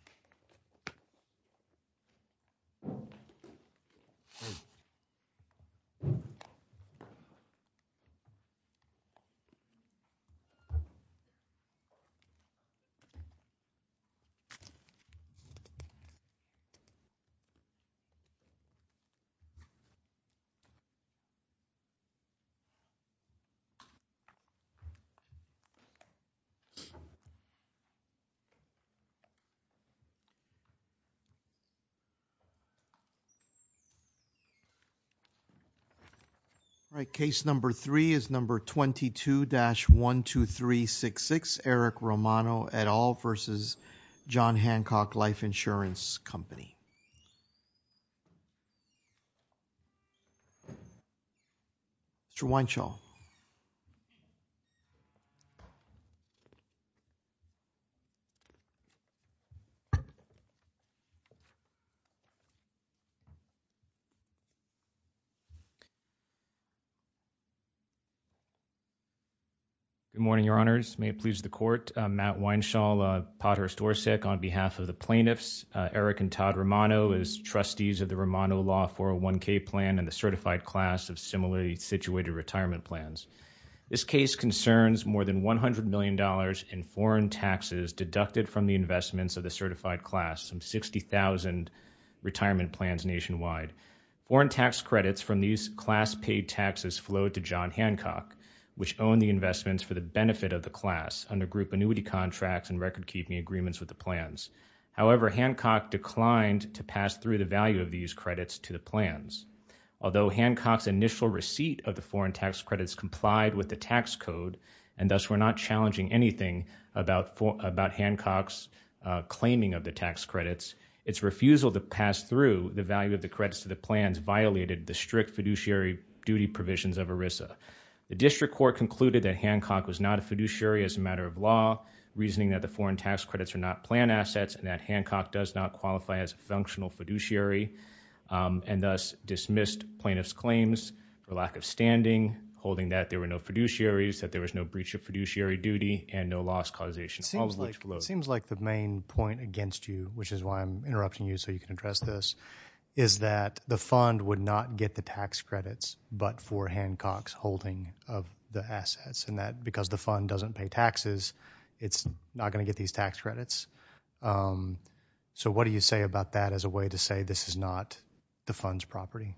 v. John Hancock Life Insurance Company, USA, Appellant 1-22-12366, Appellant 1-22-12366, businessman. Good morning, Your Honors. May it please the Court, I'm Mat Weinshall Podhirst-Dorsek on behalf of the Plaintiffs, Eric and Todd Romano as trustees of the Romano law 401c Plan and the certified class of similarly situated retirement plans. This case concerns more than $100 million in foreign taxes deducted from the investments of the certified class, some 60,000 retirement plans nationwide. Foreign tax credits from these class paid taxes flowed to John Hancock, which owned the investments for the benefit of the class under group annuity contracts and record keeping agreements with the plans. However, Hancock declined to pass through the value of these credits to the plans. Although Hancock's initial receipt of the foreign tax credits complied with the tax code and thus were not challenging anything about Hancock's claiming of the tax credits, its refusal to pass through the value of the credits to the plans violated the strict fiduciary duty provisions of ERISA. The district court concluded that Hancock was not a fiduciary as a matter of law, reasoning that the foreign tax credits are not plan assets and that Hancock does not qualify as a functional fiduciary and thus dismissed plaintiff's claims for lack of standing, holding that there were no fiduciaries, that there was no breach of fiduciary duty and no loss causation. It seems like it seems like the main point against you, which is why I'm interrupting you so you can address this, is that the fund would not get the tax credits but for Hancock's holding of the assets and that because the fund doesn't pay taxes, it's not going to get these tax credits. So what do you say about that as a way to say this is not the fund's property?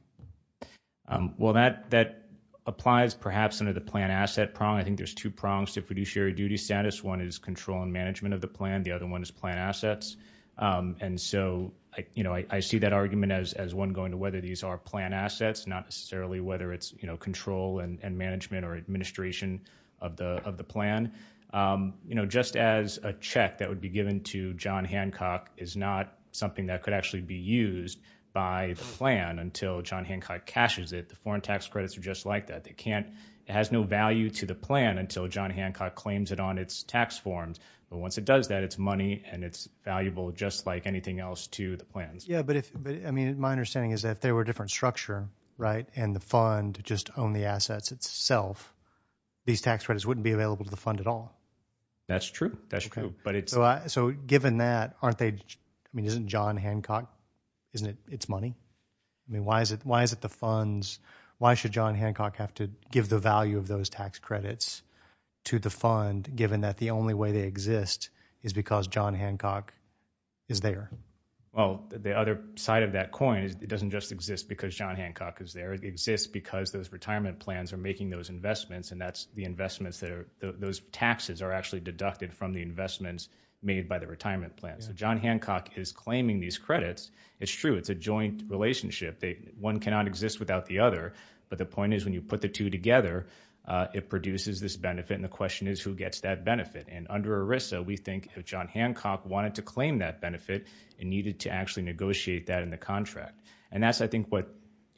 Well, that applies perhaps under the plan asset prong. I think there's two prongs to fiduciary duty status. One is control and management of the plan. The other one is plan assets. And so, you know, I see that argument as one going to whether these are plan assets, not necessarily whether it's, you know, control and management or administration of the plan. You know, just as a check that would be given to John Hancock is not something that could actually be used by the plan until John Hancock cashes it. The foreign tax credits are just like that. They can't. It has no value to the plan until John Hancock claims it on its tax forms. But once it does that, it's money and it's valuable just like anything else to the plans. Yeah. But I mean, my understanding is that if there were a different structure, right, and the fund just owned the assets itself, these tax credits wouldn't be used at all. That's true. That's true. So given that, aren't they, I mean, isn't John Hancock, isn't it its money? I mean, why is it the funds? Why should John Hancock have to give the value of those tax credits to the fund given that the only way they exist is because John Hancock is there? Well, the other side of that coin is it doesn't just exist because John Hancock is there. It exists because those retirement plans are making those investments. And that's the investments that are those taxes are actually deducted from the investments made by the retirement plan. So John Hancock is claiming these credits. It's true. It's a joint relationship. One cannot exist without the other. But the point is, when you put the two together, it produces this benefit. And the question is, who gets that benefit? And under ERISA, we think if John Hancock wanted to claim that benefit, it needed to actually negotiate that in the contract. And that's, I think, what,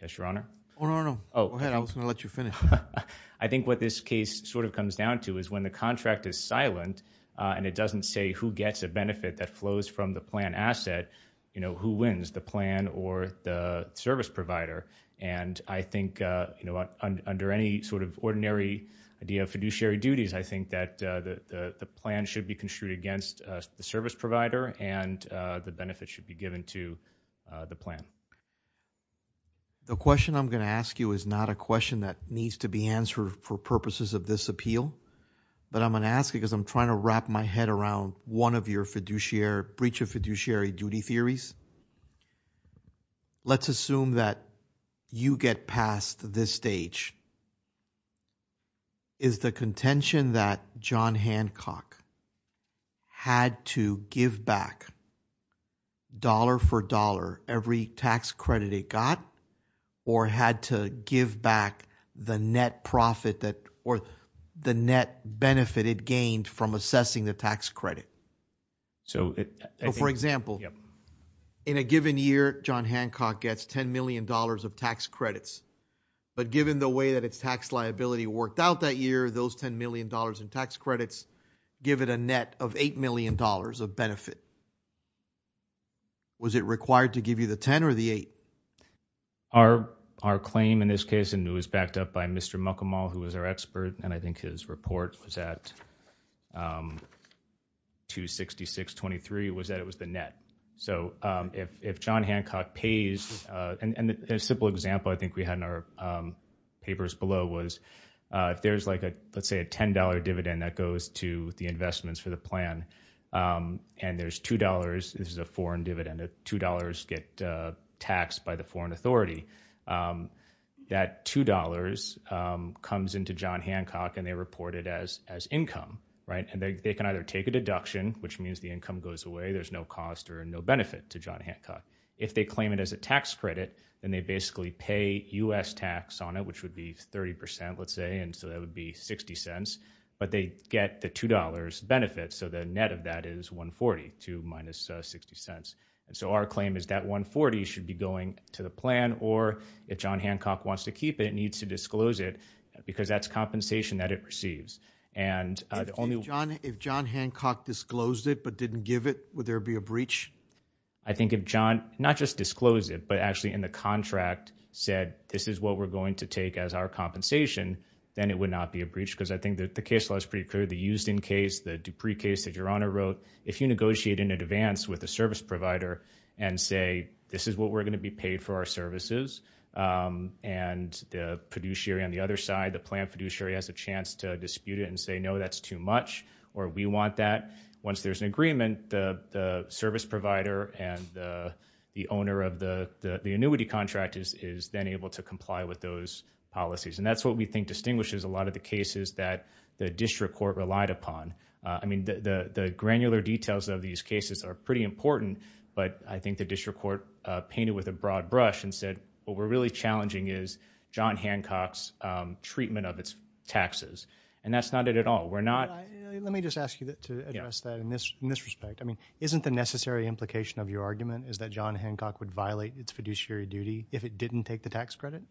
yes, Your Honor? No, no, no. Go ahead. I was going to let you finish. I think what this case sort of comes down to is when the contract is silent and it doesn't say who gets a benefit that flows from the plan asset, who wins, the plan or the service provider? And I think under any sort of ordinary idea of fiduciary duties, I think that the plan should be construed against the service provider and the benefit should be given to the plan. The question I'm going to ask you is not a question that needs to be answered for purposes of this appeal. But I'm going to ask because I'm trying to wrap my head around one of your breach of fiduciary duty theories. Let's assume that you get past this stage. Is the contention that John Hancock had to give back dollar for dollar every tax credit it got or had to give back the net profit that or the net benefit it gained from assessing the tax credit? So, for example, in a given year, John Hancock gets $10 million of tax credits. But given the way that its tax liability worked out that year, those $10 million in tax credits give it a net of $8 million of benefit. Was it required to give you the 10 or the 8? Our our claim in this case, and it was backed up by Mr. Mccall, who was our expert, and I think his report was at. 26623 was that it was the net. So if if John Hancock pays and a simple example, I think we had in our papers below was if there's like a, let's say, a $10 dividend that goes to the investments for the plan and there's $2, this is a foreign dividend, $2 get taxed by the foreign authority. Um, that $2, um, comes into John Hancock, and they reported as as income, right? And they can either take a deduction, which means the income goes away. There's no cost or no benefit to John Hancock. If they claim it as a tax credit, then they basically pay us tax on it, which would be 30%, let's say, and so that would be 60 cents, but they get the $2 benefits. So the net of that is 140 to minus 60 cents. And so our claim is that 140 should be going to the plan, or if John Hancock wants to keep it, it needs to disclose it because that's compensation that it receives. And the only John, if John Hancock disclosed it, but didn't give it, would there be a breach? I think if John, not just disclose it, but actually in the contract said, this is what we're going to take as our compensation, then it would not be a breach. Because I think that the case law is pretty clear. The used in case, the Dupree case that your honor wrote, if you negotiate in advance with a service provider and say, this is what we're going to be paid for our services. And the producer on the other side, the plan fiduciary has a chance to dispute it and say, no, that's too much or we want that once there's an agreement, the service provider and the owner of the annuity contract is then able to comply with those policies. And that's what we think distinguishes a lot of the cases that the district court relied upon. I mean, the granular details of these cases are pretty important, but I think the district court painted with a broad brush and said, well, we're really challenging is John Hancock's treatment of its taxes. And that's not it at all. We're not. Let me just ask you to address that in this in this respect. I mean, isn't the necessary implication of your argument is that John Hancock would violate its fiduciary duty if it didn't take the tax credit?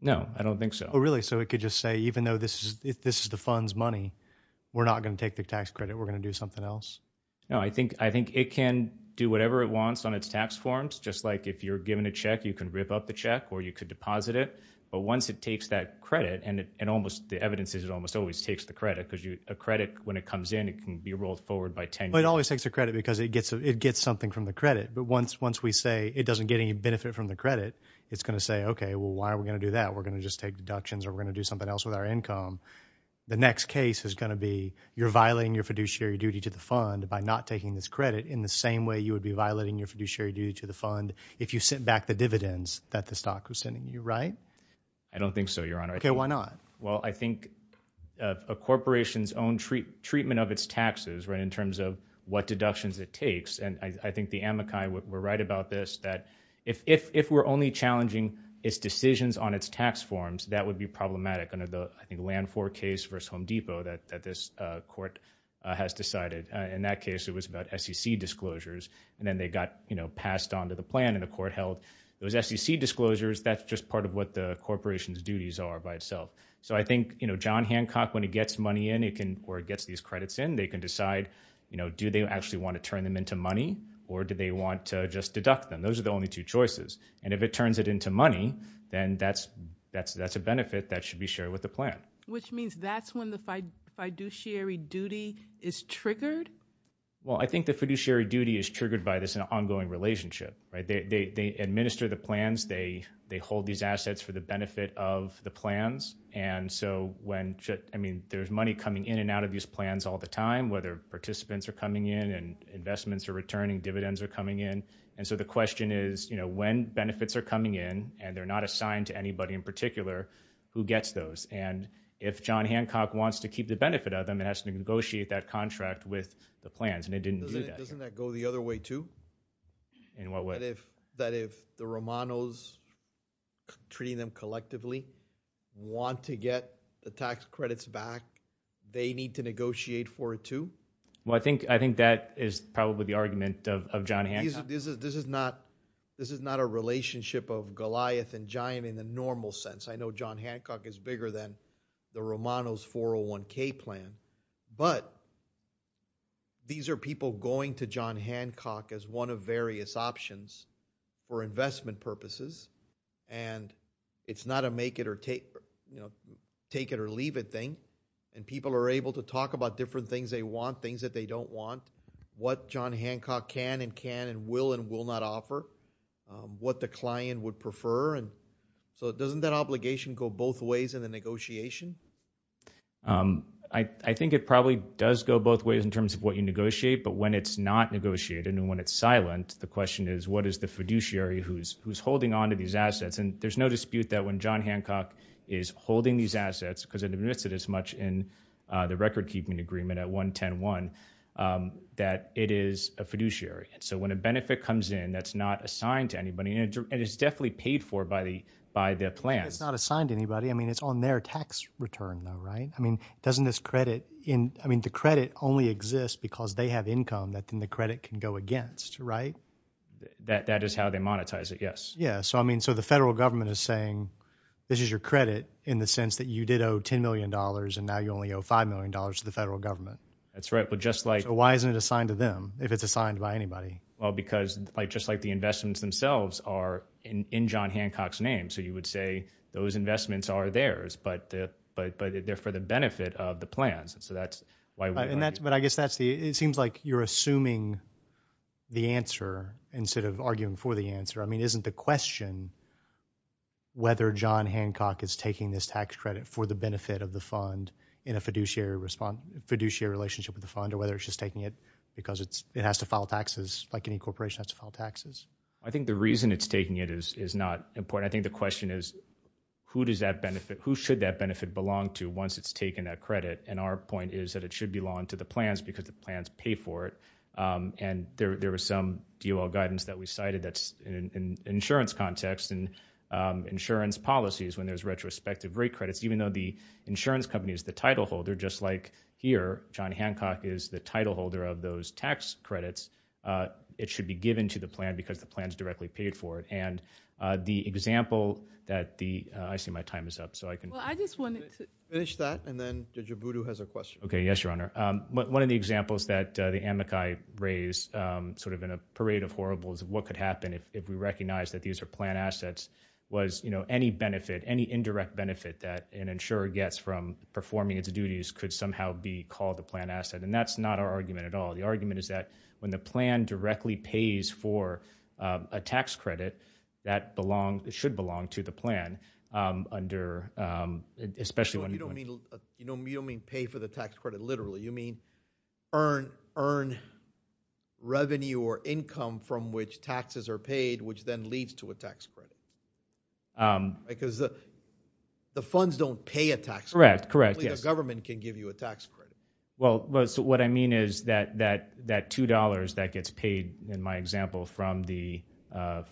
No, I don't think so. So it could just say, even though this is if this is the funds money, we're not going to take the tax credit. We're going to do something else. No, I think I think it can do whatever it wants on its tax forms, just like if you're given a check, you can rip up the check or you could deposit it. But once it takes that credit and almost the evidence is it almost always takes the credit because a credit when it comes in, it can be rolled forward by 10. But it always takes a credit because it gets it gets something from the credit. But once once we say it doesn't get any benefit from the credit, it's going to say, OK, well, why are we going to do that? We're going to just take deductions or we're going to do something else with our income. The next case is going to be you're violating your fiduciary duty to the fund by not taking this credit in the same way you would be violating your fiduciary duty to the fund if you sent back the dividends that the stock was sending you. Right. I don't think so, Your Honor. OK, why not? Well, I think a corporation's own treatment of its taxes in terms of what deductions it takes. And I think the Amakai were right about this, that if if we're only challenging its decisions on its tax forms, that would be problematic. And I think land for case versus Home Depot that this court has decided in that case, it was about SEC disclosures. And then they got passed on to the plan and the court held those SEC disclosures. That's just part of what the corporation's duties are by itself. So I think, you know, John Hancock, when he gets money in, it can or it gets these credits in. They can decide, you know, do they actually want to turn them into money or do they want to just deduct them? Those are the only two choices. And if it turns it into money, then that's that's that's a benefit that should be shared with the plan. Which means that's when the fiduciary duty is triggered. Well, I think the fiduciary duty is triggered by this ongoing relationship. Right. They administer the plans. They they hold these assets for the benefit of the plans. And so when I mean, there's money coming in and out of these plans all the time, whether participants are coming in and investments are returning, dividends are coming in. And so the question is, you know, when benefits are coming in and they're not assigned to anybody in particular who gets those. And if John Hancock wants to keep the benefit of them, it has to negotiate that contract with the plans. And it didn't go the other way, too. In what way? That if the Romanos treating them collectively want to get the tax credits back, they need to negotiate for it, too. Well, I think I think that is probably the argument of John Hancock. This is this is not this is not a relationship of Goliath and giant in the normal sense. I know John Hancock is bigger than the Romanos 401k plan, but. These are people going to John Hancock as one of various options for investment purposes, and it's not a make it or take, you know, take it or leave it thing. And people are able to talk about different things they want, things that they don't want, what John Hancock can and can and will and will not offer what the client would prefer. And so it doesn't that obligation go both ways in the negotiation? I think it probably does go both ways in terms of what you negotiate. But when it's not negotiated and when it's silent, the question is, what is the fiduciary who's who's holding on to these assets? And there's no dispute that when John Hancock is holding these assets, because in the midst of this much in the record keeping agreement at one ten one, that it is a fiduciary. And so when a benefit comes in, that's not assigned to anybody. And it's definitely paid for by the by the plan. It's not assigned to anybody. I mean, it's on their tax return, though, right? I mean, doesn't this credit in I mean, the credit only exists because they have income that then the credit can go against. Right. That that is how they monetize it. Yes. Yeah. So I mean, so the federal government is saying this is your credit in the sense that you did owe ten million dollars and now you only owe five million dollars to the federal government. That's right. But just like why isn't it assigned to them if it's assigned by anybody? Well, because just like the investments themselves are in John Hancock's name. So you would say those investments are theirs, but but but they're for the benefit of the plans. And so that's why. And that's but I guess that's the it seems like you're assuming the answer instead of arguing for the answer. I mean, isn't the question. Whether John Hancock is taking this tax credit for the benefit of the fund in a fiduciary response, fiduciary relationship with the fund or whether it's just taking it because it's it has to file taxes like any corporation has to file taxes. I think the reason it's taking it is is not important. And I think the question is, who does that benefit? Who should that benefit belong to once it's taken that credit? And our point is that it should belong to the plans because the plans pay for it. And there was some guidance that we cited that's in insurance context and insurance policies when there's retrospective rate credits, even though the insurance company is the title holder. Just like here, John Hancock is the title holder of those tax credits. It should be given to the plan because the plans directly paid for it. The example that the I see my time is up, so I can. Well, I just wanted to finish that. And then Jibudu has a question. OK, yes, your honor. One of the examples that the Amakai raise sort of in a parade of horribles of what could happen if we recognize that these are plan assets was, you know, any benefit, any indirect benefit that an insurer gets from performing its duties could somehow be called a plan asset. And that's not our argument at all. The argument is that when the plan directly pays for a tax credit that belong, it should belong to the plan under, especially when you don't mean, you know, you don't mean pay for the tax credit. Literally, you mean earn, earn revenue or income from which taxes are paid, which then leads to a tax credit. Because the funds don't pay a tax. Correct, correct. Yes, government can give you a tax credit. Well, what I mean is that that that two dollars that gets paid, in my example, from the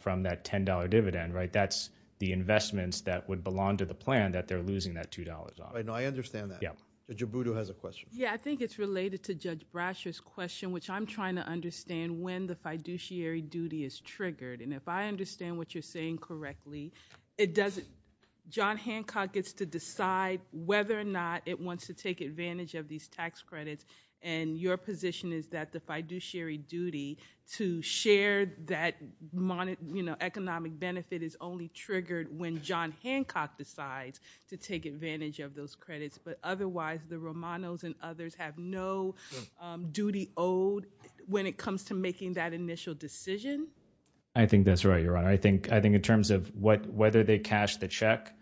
from that ten dollar dividend. Right. That's the investments that would belong to the plan that they're losing that two dollars. I know I understand that. Yeah, Jibudu has a question. Yeah, I think it's related to Judge Brasher's question, which I'm trying to understand when the fiduciary duty is triggered. And if I understand what you're saying correctly, it doesn't. John Hancock gets to decide whether or not it wants to take advantage of these tax credits. And your position is that the fiduciary duty to share that economic benefit is only triggered when John Hancock decides to take advantage of those credits. But otherwise, the Romanos and others have no duty owed when it comes to making that initial decision. I think that's right, Your Honor. I think I think in terms of what whether they cash the check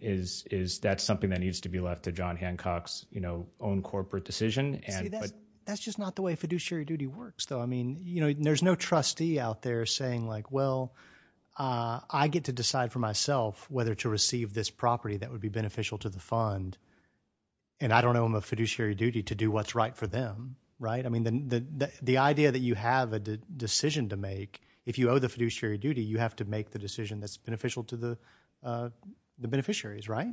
is is that something that needs to be left to John Hancock's own corporate decision. And that's just not the way fiduciary duty works, though. I mean, you know, there's no trustee out there saying like, well, I get to decide for myself whether to receive this property that would be beneficial to the fund. And I don't know I'm a fiduciary duty to do what's right for them. Right. I mean, the the idea that you have a decision to make if you owe the fiduciary duty, you have to make the decision that's beneficial to the the beneficiaries. Right.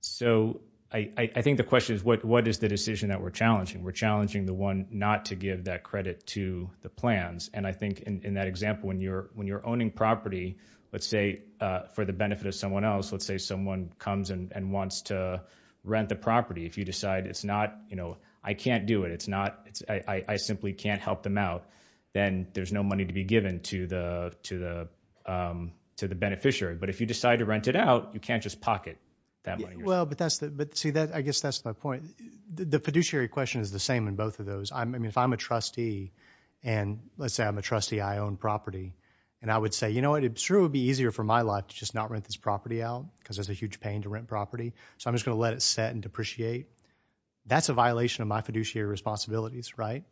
So I think the question is, what what is the decision that we're challenging? We're challenging the one not to give that credit to the plans. And I think in that example, when you're when you're owning property, let's say for the benefit of someone else, let's say someone comes and wants to rent the property. If you decide it's not, you know, I can't do it. It's not it's I simply can't help them out. Then there's no money to be given to the to the to the beneficiary. But if you decide to rent it out, you can't just pocket that money. Well, but that's the but see that I guess that's my point. The fiduciary question is the same in both of those. I mean, if I'm a trustee and let's say I'm a trustee, I own property. And I would say, you know, it would be easier for my life to just not rent this property out because there's a huge pain to rent property. So I'm just going to let it set and depreciate. That's a violation of my fiduciary responsibilities, right?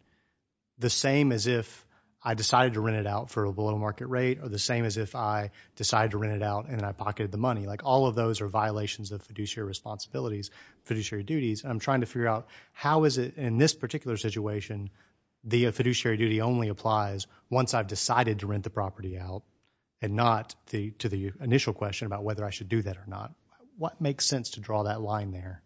The same as if I decided to rent it out for a below market rate or the same as if I decided to rent it out and I pocketed the money. Like all of those are violations of fiduciary responsibilities, fiduciary duties. I'm trying to figure out how is it in this particular situation? The fiduciary duty only applies once I've decided to rent the property out and not the to the initial question about whether I should do that or not. What makes sense to draw that line there?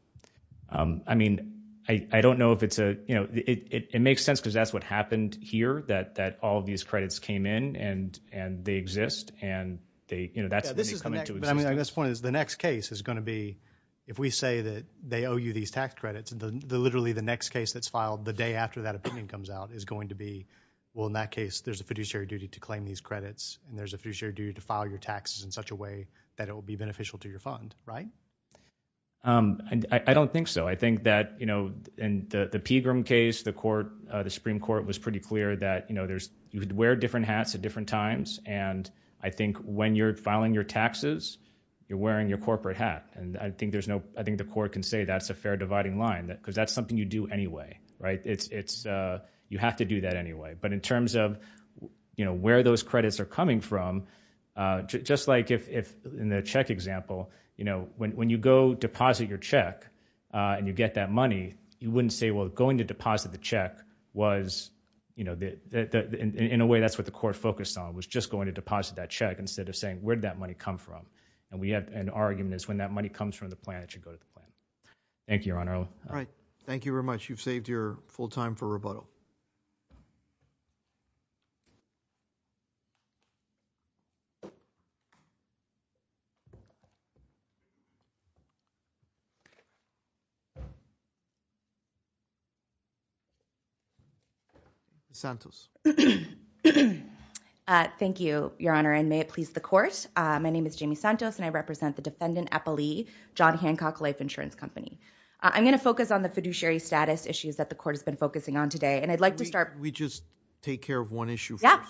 I mean, I don't know if it's a, you know, it makes sense because that's what happened here, that all of these credits came in and they exist. And they, you know, that's when they come into existence. I mean, I guess the point is the next case is going to be if we say that they owe you these tax credits, and literally the next case that's filed the day after that opinion comes out is going to be, well, in that case, there's a fiduciary duty to claim these credits. And there's a fiduciary duty to file your taxes in such a way that it will be beneficial to your funds. Right? And I don't think so. I think that, you know, in the Pegram case, the court, the Supreme Court was pretty clear that, you know, there's, you could wear different hats at different times. And I think when you're filing your taxes, you're wearing your corporate hat. And I think there's no, I think the court can say that's a fair dividing line because that's something you do anyway. Right? It's, you have to do that anyway. But in terms of, you know, where those credits are coming from, just like if in the check example, you know, when you go deposit your check and you get that money, you wouldn't say, well, going to deposit the check was, you know, in a way that's what the court focused on was just going to deposit that check instead of saying, where did that money come from? And we have an argument is when that money comes from the plan, it should go to the plan. Thank you, Your Honor. All right. Thank you very much. You've saved your full time for rebuttal. Thank you. Santos. Thank you, Your Honor. And may it please the court. My name is Jamie Santos, and I represent the defendant Eppley, John Hancock Life Insurance Company. I'm going to focus on the fiduciary status issues that the court has been focusing on today. And I'd like to start. We just take care of one issue. Yeah.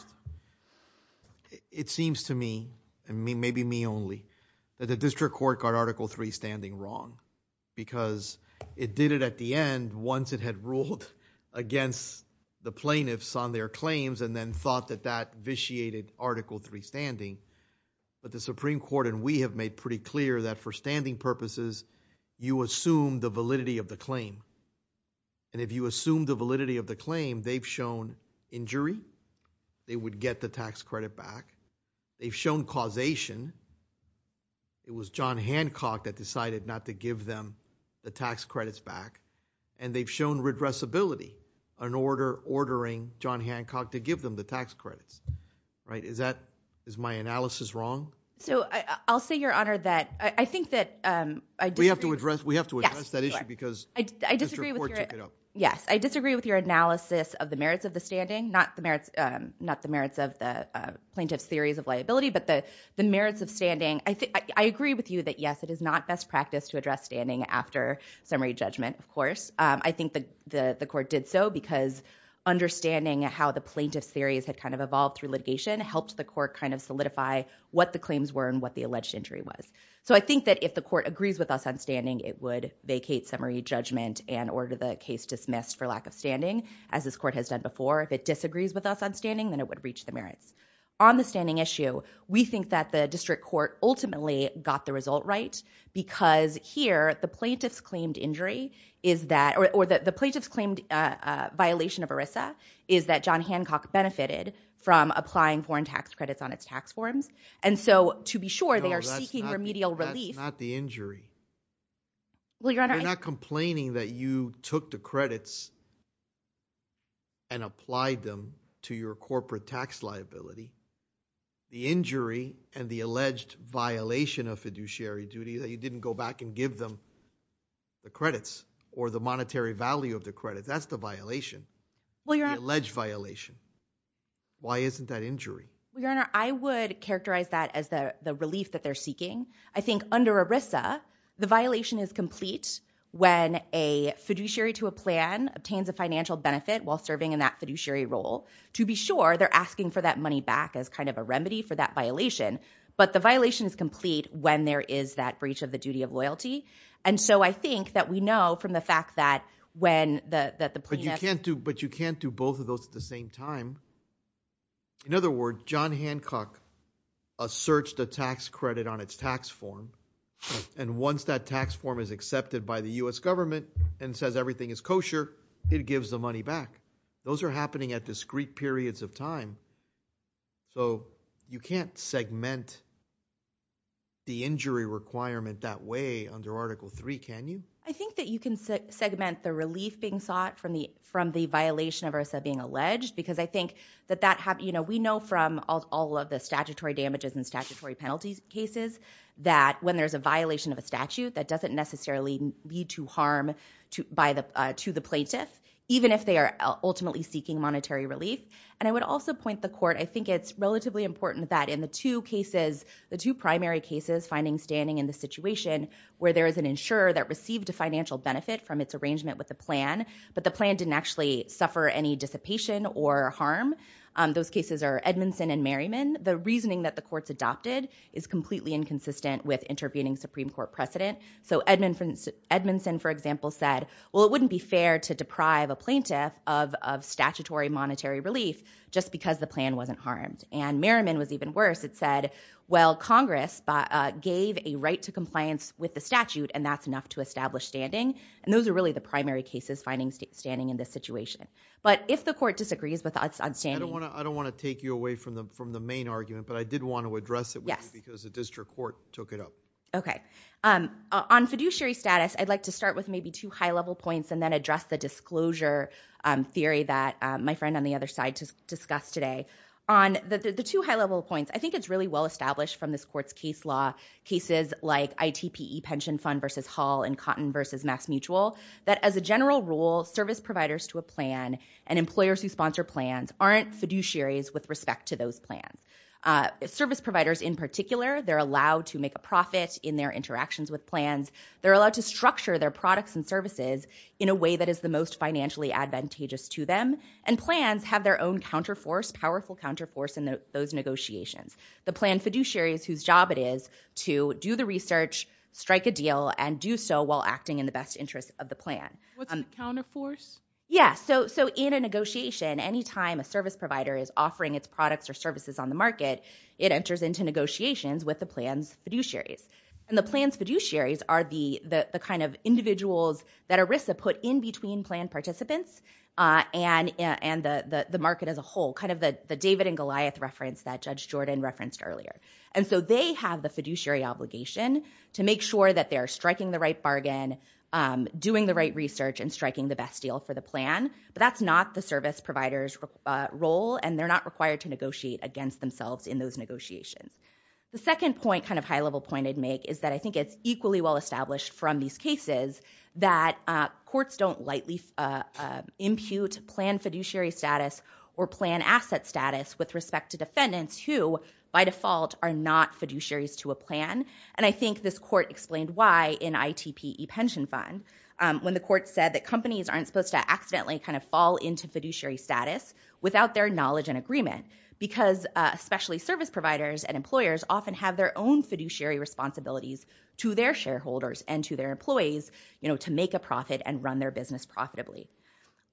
It seems to me, and maybe me only, that the district court got article three standing wrong because it did it at the end once it had ruled against the plaintiffs on their claims and then thought that that vitiated article three standing. But the Supreme Court and we have made pretty clear that for standing purposes, you assume the validity of the claim. And if you assume the validity of the claim, they've shown injury. They would get the tax credit back. They've shown causation. It was John Hancock that decided not to give them the tax credits back. And they've shown redressability in order ordering John Hancock to give them the tax credits. Right. Is my analysis wrong? So I'll say, Your Honor, that I think that- We have to address that issue because the district court took it up. Yes. I disagree with your analysis of the merits of the standing. Not the merits of the plaintiff's theories of liability, but the merits of standing. I agree with you that, yes, it is not best practice to address standing after summary judgment, of course. I think the court did so because understanding how the plaintiff's theories had kind of evolved through litigation helped the court kind of solidify what the claims were and what the alleged injury was. So I think that if the court agrees with us on standing, it would vacate summary judgment and order the case dismissed for lack of standing, as this court has done before. If it disagrees with us on standing, then it would reach the merits. On the standing issue, we think that the district court ultimately got the result right because here, the plaintiff's claimed injury is that- or the plaintiff's claimed violation of ERISA is that John Hancock benefited from applying foreign tax credits on its tax forms. And so to be sure, they are seeking remedial relief- No, that's not the injury. Well, Your Honor- We're not complaining that you took the credits and applied them to your corporate tax liability. The injury and the alleged violation of fiduciary duty that you didn't go back and give them the credits or the monetary value of the credits, that's the violation. Well, Your Honor- The alleged violation. Why isn't that injury? Well, Your Honor, I would characterize that as the relief that they're seeking. I think under ERISA, the violation is complete when a fiduciary to a plan obtains a financial benefit while serving in that fiduciary role. To be sure, they're asking for that money back as kind of a remedy for that violation. But the violation is complete when there is that breach of the duty of loyalty. And so I think that we know from the fact that when the plaintiff- But you can't do both of those at the same time. In other words, John Hancock asserts the tax credit on its tax form. And once that tax form is accepted by the U.S. government and says everything is kosher, it gives the money back. Those are happening at discrete periods of time. So you can't segment the injury requirement that way under Article III, can you? I think that you can segment the relief being sought from the violation of ERISA being alleged because I think that we know from all of the statutory damages and statutory penalties cases that when there's a violation of a statute, that doesn't necessarily lead to harm to the plaintiff, even if they are ultimately seeking monetary relief. And I would also point the court, I think it's relatively important that in the two cases, the two primary cases finding standing in the situation where there is an insurer that received a financial benefit from its arrangement with the plan, but the plan didn't actually any dissipation or harm. Those cases are Edmondson and Merriman. The reasoning that the courts adopted is completely inconsistent with intervening Supreme Court precedent. So Edmondson, for example, said, well, it wouldn't be fair to deprive a plaintiff of statutory monetary relief just because the plan wasn't harmed. And Merriman was even worse. It said, well, Congress gave a right to compliance with the statute and that's enough to establish standing. And those are really the primary cases finding standing in this situation. If the court disagrees with that, I don't want to take you away from the main argument, but I did want to address it because the district court took it up. Okay. On fiduciary status, I'd like to start with maybe two high level points and then address the disclosure theory that my friend on the other side just discussed today. On the two high level points, I think it's really well established from this court's case law, cases like ITPE pension fund versus Hall and Cotton versus MassMutual, that as a general rule, service providers to a plan and employers who sponsor plans aren't fiduciaries with respect to those plans. Service providers in particular, they're allowed to make a profit in their interactions with plans. They're allowed to structure their products and services in a way that is the most financially advantageous to them. And plans have their own counterforce, powerful counterforce in those negotiations. The plan fiduciary is whose job it is to do the research, strike a deal, and do so while acting in the best interest of the plan. What's the counterforce? Yeah, so in a negotiation, anytime a service provider is offering its products or services on the market, it enters into negotiations with the plan's fiduciaries. And the plan's fiduciaries are the kind of individuals that ERISA put in between plan participants and the market as a whole, kind of the David and Goliath reference that Judge Jordan referenced earlier. And so they have the fiduciary obligation to make sure that they're striking the right bargain, doing the right research, and striking the best deal for the plan. But that's not the service provider's role, and they're not required to negotiate against themselves in those negotiations. The second point, kind of high-level point I'd make, is that I think it's equally well established from these cases that courts don't lightly impute plan fiduciary status or plan asset status with respect to defendants who, by default, are not fiduciaries to a plan. And I think this court explained why in ITPE Pension Fund, when the court said that companies aren't supposed to accidentally kind of fall into fiduciary status without their knowledge and agreement, because especially service providers and employers often have their own fiduciary responsibilities to their shareholders and to their employees to make a profit and run their business profitably.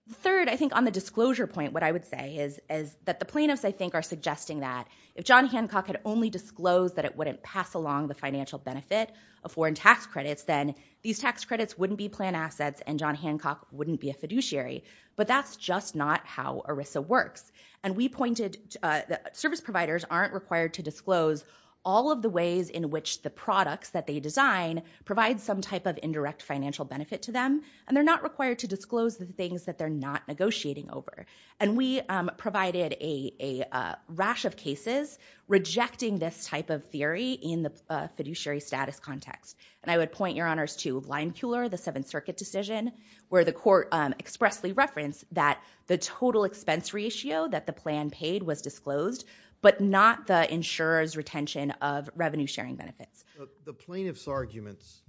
The third, I think, on the disclosure point, what I would say is that the plaintiffs, I think, are suggesting that if John Hancock had only disclosed that it wouldn't pass along the financial benefit of foreign tax credits, then these tax credits wouldn't be plan assets and John Hancock wouldn't be a fiduciary. But that's just not how ERISA works. And we pointed—service providers aren't required to disclose all of the ways in which the products that they design provide some type of indirect financial benefit to them, and they're not required to disclose the things that they're not negotiating over. And we provided a rash of cases rejecting this type of theory in the fiduciary status context. And I would point your honors to Lime Cooler, the Seventh Circuit decision, where the court expressly referenced that the total expense ratio that the plan paid was disclosed, but not the insurer's retention of revenue-sharing benefits. The plaintiff's arguments,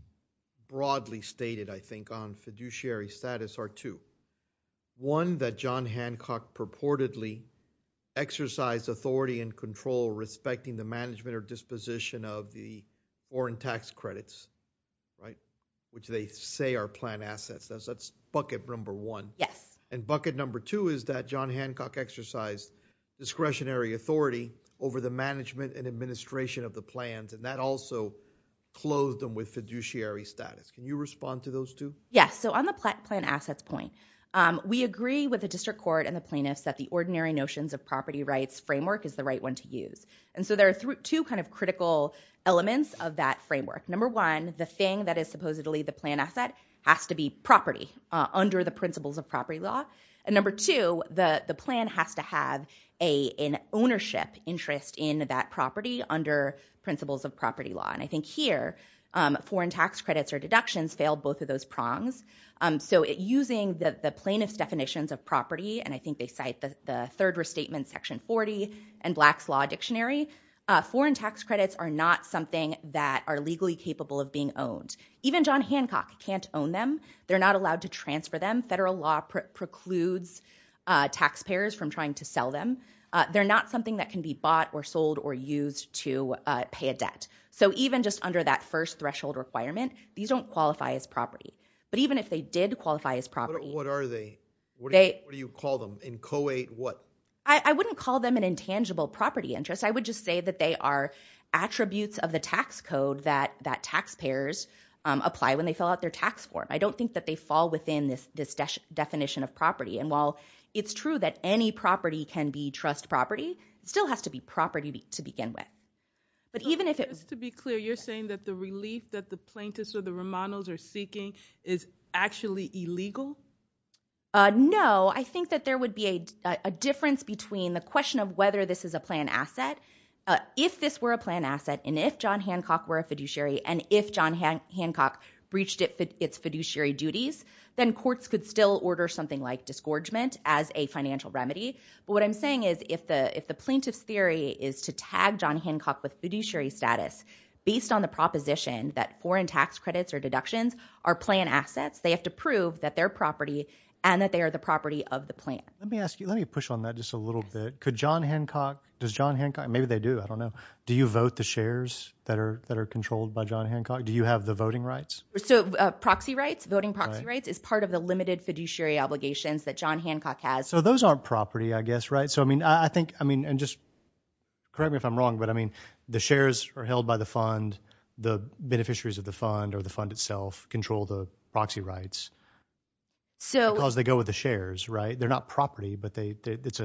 broadly stated, I think, on fiduciary status are two. One, that John Hancock purportedly exercised authority and control respecting the management or disposition of the foreign tax credits, right, which they say are plan assets. That's bucket number one. Yes. And bucket number two is that John Hancock exercised discretionary authority over the management and administration of the plans, and that also clothed them with fiduciary status. Can you respond to those two? Yes. So on the plan assets point, we agree with the district court and the plaintiffs that the ordinary notions of property rights framework is the right one to use. And so there are two kind of critical elements of that framework. Number one, the thing that is supposedly the plan asset has to be property under the principles of property law. And number two, the plan has to have an ownership interest in that property under principles of property law. And I think here, foreign tax credits or deductions fail both of those prongs. So using the plaintiff's definitions of property, and I think they cite the Third Restatement Section 40 and Black's Law Dictionary, foreign tax credits are not something that are legally capable of being owned. Even John Hancock can't own them. They're not allowed to transfer them. Federal law precludes taxpayers from trying to sell them. They're not something that can be bought or sold or used to pay a debt. So even just under that first threshold requirement, these don't qualify as property. But even if they did qualify as property- What are they? What do you call them? In co-ed what? I wouldn't call them an intangible property interest. I would just say that they are attributes of the tax code that taxpayers apply when they fill out their tax form. I don't think that they fall within this definition of property. And while it's true that any property can be trust property, it still has to be property to begin with. But even if it- Just to be clear, you're saying that the relief that the plaintiffs or the Romanos are seeking is actually illegal? No, I think that there would be a difference between the question of whether this is a planned asset. If this were a planned asset, and if John Hancock were a fiduciary, and if John Hancock breached its fiduciary duties, then courts could still order something like disgorgement as a financial remedy. But what I'm saying is if the plaintiff's theory is to tag John Hancock with fiduciary status based on the proposition that foreign tax credits or deductions are planned assets, they have to prove that they're property and that they are the property of the plan. Let me ask you, let me push on that just a little bit. Could John Hancock, does John Hancock, maybe they do, I don't know. Do you vote the shares that are controlled by John Hancock? Do you have the voting rights? So proxy rights, voting proxy rights is part of the limited fiduciary obligations that John Hancock has. So those aren't property, I guess, right? So I mean, I think, I mean, and just correct me if I'm wrong, but I mean, the shares are held by the fund, the beneficiaries of the fund or the fund itself control the proxy rights because they go with the shares, right? They're not property, but it's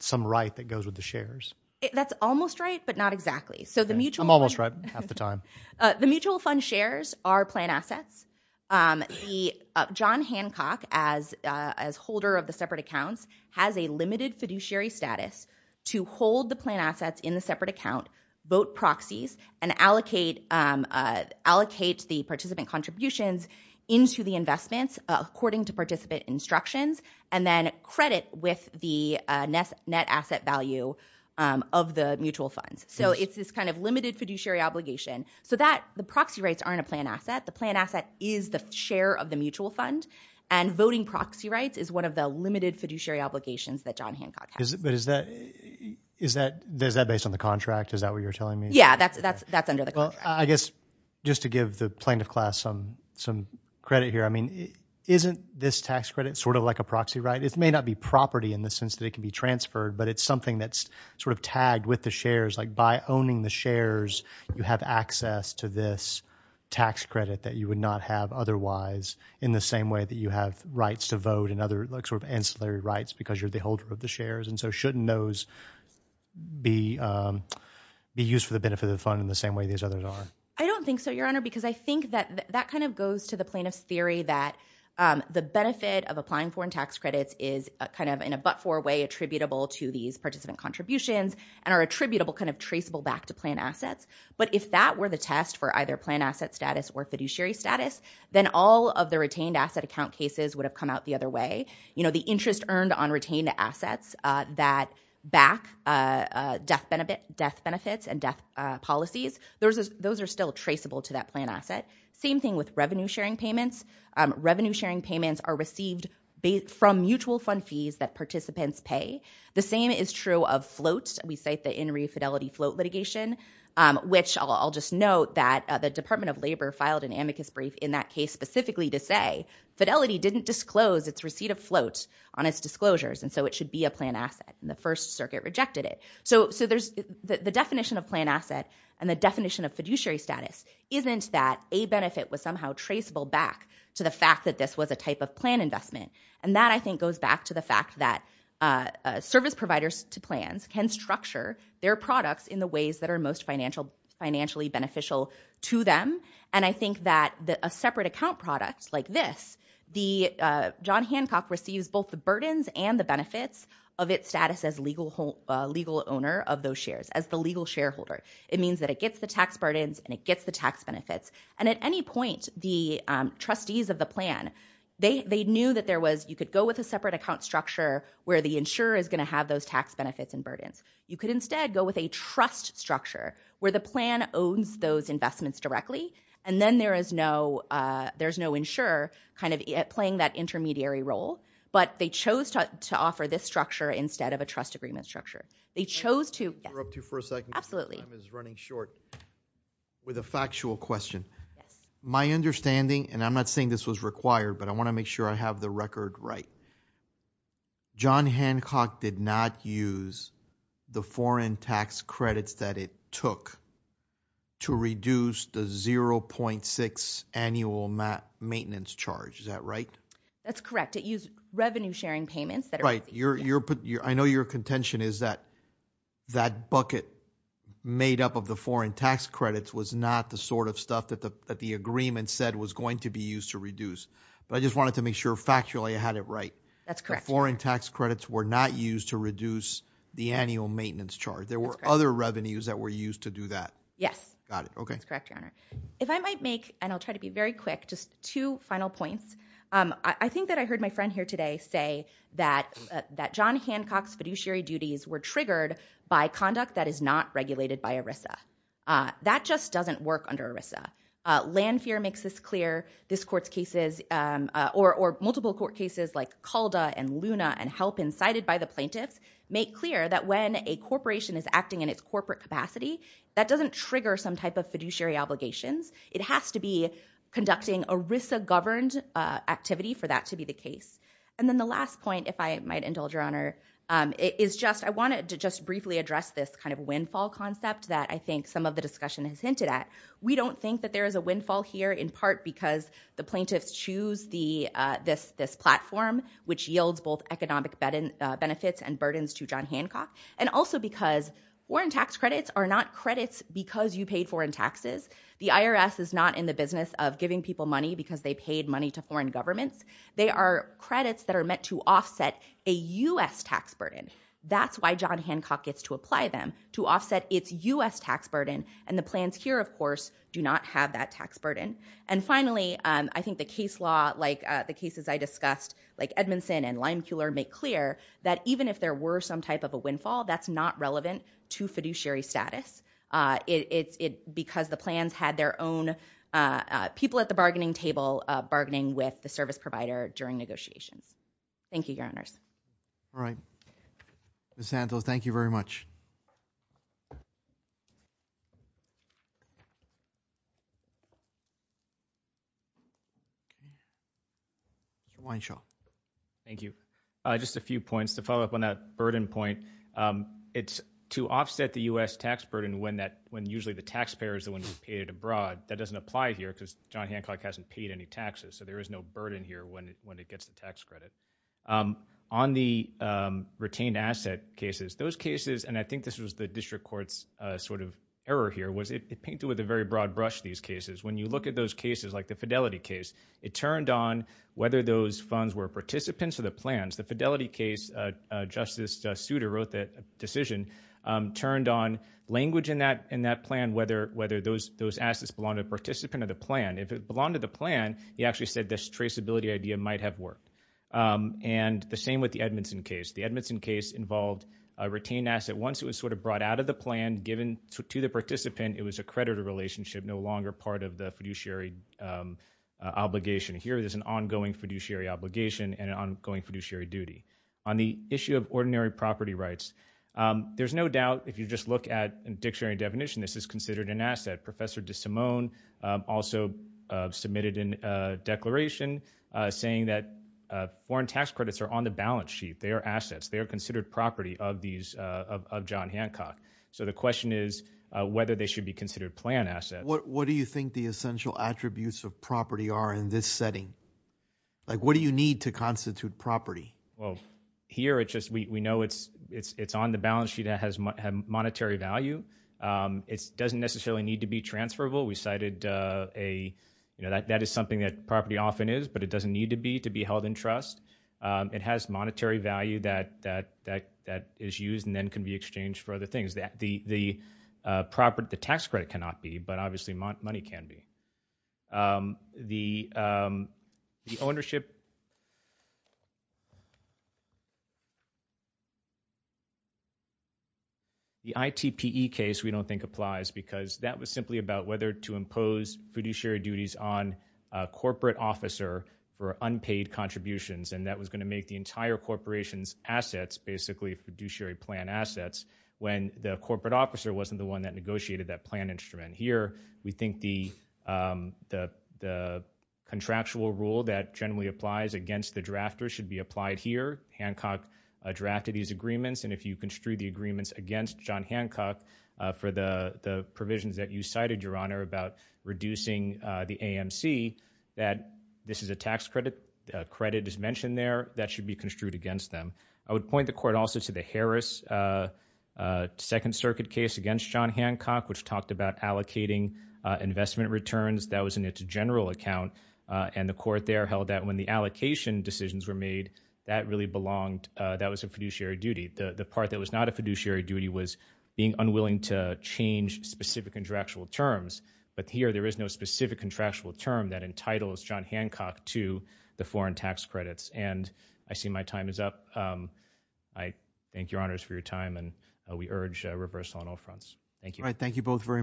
some right that goes with the shares. That's almost right, but not exactly. So the mutual- I'm almost right, half the time. The mutual fund shares are planned assets. The John Hancock as holder of the separate accounts has a limited fiduciary status to hold the planned assets in the separate account, vote proxies, and allocate the participant contributions into the investments according to participant instructions, and then credit with the net asset value of the mutual funds. So it's this kind of limited fiduciary obligation. So that, the proxy rights aren't a planned asset. The planned asset is the share of the mutual fund, and voting proxy rights is one of the limited fiduciary obligations that John Hancock has. But is that, is that, is that based on the contract? Is that what you're telling me? Yeah, that's, that's, that's under the contract. I guess just to give the plaintiff class some, some credit here. I mean, isn't this tax credit sort of like a proxy right? It may not be property in the sense that it can be transferred, but it's something that's sort of tagged with the shares. Like by owning the shares, you have access to this tax credit that you would not have otherwise in the same way that you have rights to vote and other like sort of ancillary rights because you're the holder of the shares. And so shouldn't those be, be used for the benefit of the fund in the same way these others are? I don't think so, Your Honor, because I think that, that kind of goes to the plaintiff's theory that the benefit of applying foreign tax credits is kind of in a but-for way attributable to these participant contributions and are attributable, kind of traceable back to plan assets. But if that were the test for either plan asset status or fiduciary status, then all of the retained asset account cases would have come out the other way. You know, the interest earned on retained assets that back death benefit, death benefits and death policies, those, those are still traceable to that plan asset. Same thing with revenue sharing payments. Revenue sharing payments are received from mutual fund fees that participants pay. The same is true of floats. We cite the In Re Fidelity float litigation, which I'll just note that the Department of Labor filed an amicus brief in that case specifically to say fidelity didn't disclose its receipt of floats on its disclosures and so it should be a plan asset. And the First Circuit rejected it. So, so there's, the, the definition of plan asset and the definition of fiduciary status isn't that a benefit was somehow traceable back to the fact that this was a type of plan investment. And that I think goes back to the fact that service providers to plans can structure their products in the ways that are most financial, financially beneficial to them. And I think that a separate account product like this, the, John Hancock receives both the burdens and the benefits of its status as legal, legal owner of those shares, as the legal shareholder. It means that it gets the tax burdens and it gets the tax benefits. And at any point, the trustees of the plan, they, they knew that there was, you could go with a separate account structure where the insurer is going to have those tax benefits and burdens. You could instead go with a trust structure where the plan owns those investments directly and then there is no, there's no insurer kind of playing that intermediary role. But they chose to, to offer this structure instead of a trust agreement structure. They chose to, yes. Absolutely. With a factual question. My understanding, and I'm not saying this was required, but I want to make sure I have the record right. John Hancock did not use the foreign tax credits that it took to reduce the 0.6 annual maintenance charge. Is that right? That's correct. It used revenue sharing payments. Right. I know your contention is that, that bucket made up of the foreign tax credits was not the sort of stuff that the, that the agreement said was going to be used to reduce. But I just wanted to make sure factually I had it right. That's correct. Foreign tax credits were not used to reduce the annual maintenance charge. There were other revenues that were used to do that. Yes. Got it. Okay. That's correct, Your Honor. If I might make, and I'll try to be very quick, just two final points. I think that I heard my friend here today say that, that John Hancock's fiduciary duties were triggered by conduct that is not regulated by ERISA. That just doesn't work under ERISA. Land Fear makes this clear. This court's cases, or multiple court cases like Calda and Luna and HELP incited by the plaintiffs, make clear that when a corporation is acting in its corporate capacity, that doesn't trigger some type of fiduciary obligations. It has to be conducting ERISA governed activity for that to be the case. And then the last point, if I might indulge, Your Honor, is just, I wanted to just briefly address this kind of windfall concept that I think some of the discussion has hinted at. We don't think that there is a windfall here in part because the plaintiffs choose the, this, this platform, which yields both economic benefits and burdens to John Hancock. And also because foreign tax credits are not credits because you paid foreign taxes. The IRS is not in the business of giving people money because they paid money to foreign governments. They are credits that are meant to offset a U.S. tax burden. That's why John Hancock gets to apply them, to offset its U.S. tax burden. And the plans here, of course, do not have that tax burden. And finally, I think the case law, like the cases I discussed, like Edmondson and Lime Keeler make clear that even if there were some type of a windfall, that's not relevant to fiduciary status. It's, it, because the plans had their own people at the bargaining table bargaining with the service provider during negotiations. Thank you, your honors. All right. Ms. Santos, thank you very much. Wineshaw. Thank you. Just a few points to follow up on that burden point. It's to offset the U.S. tax burden when that, when usually the taxpayer is the one who's paid abroad. That doesn't apply here because John Hancock hasn't paid any taxes, so there is no burden here when it, when it gets the tax credit. On the retained asset cases, those cases, and I think this was the district court's sort of error here, was it, it painted with a very broad brush these cases. When you look at those cases, like the Fidelity case, it turned on whether those funds were participants or the plans. The Fidelity case, Justice Souter wrote that decision, turned on language in that, in that plan whether, whether those, those assets belong to the participant or the plan. If it belonged to the plan, he actually said this traceability idea might have worked. And the same with the Edmondson case. The Edmondson case involved a retained asset. Once it was sort of brought out of the plan, given to the participant, it was a creditor relationship, no longer part of the fiduciary obligation. Here, there's an ongoing fiduciary obligation and an ongoing fiduciary duty. On the issue of ordinary property rights, there's no doubt if you just look at a dictionary definition, this is considered an asset. Professor DeSimone also submitted a declaration saying that foreign tax credits are on the balance sheet. They are assets. They are considered property of these, of John Hancock. So the question is whether they should be considered plan assets. What do you think the essential attributes of property are in this setting? Like, what do you need to constitute property? Well, here it's just, we, we know it's, it's, it's on the balance sheet that has monetary value. It doesn't necessarily need to be transferable. We cited a, you know, that, that is something that property often is, but it doesn't need to be, to be held in trust. It has monetary value that, that, that, that is used and then can be exchanged for other things. The, the property, the tax credit cannot be, but obviously money can be. The, the ownership, the ITPE case we don't think applies because that was simply about whether to impose fiduciary duties on a corporate officer for unpaid contributions. And that was going to make the entire corporation's assets basically fiduciary plan assets. When the corporate officer wasn't the one that negotiated that plan instrument. Here, we think the, the, the contractual rule that generally applies against the drafter should be applied here. Hancock drafted these agreements. And if you construe the agreements against John Hancock for the, the provisions that you cited, Your Honor, about reducing the AMC, that this is a tax credit, credit is mentioned there that should be construed against them. I would point the court also to the Harris Second Circuit case against John Hancock, which talked about allocating investment returns. That was in its general account. And the court there held that when the allocation decisions were made, that really belonged, that was a fiduciary duty. The part that was not a fiduciary duty was being unwilling to change specific contractual terms. But here there is no specific contractual term that entitles John Hancock to the foreign tax credits. And I see my time is up. I thank Your Honors for your time. And we urge reversal on all fronts. Thank you. All right. Thank you both very much.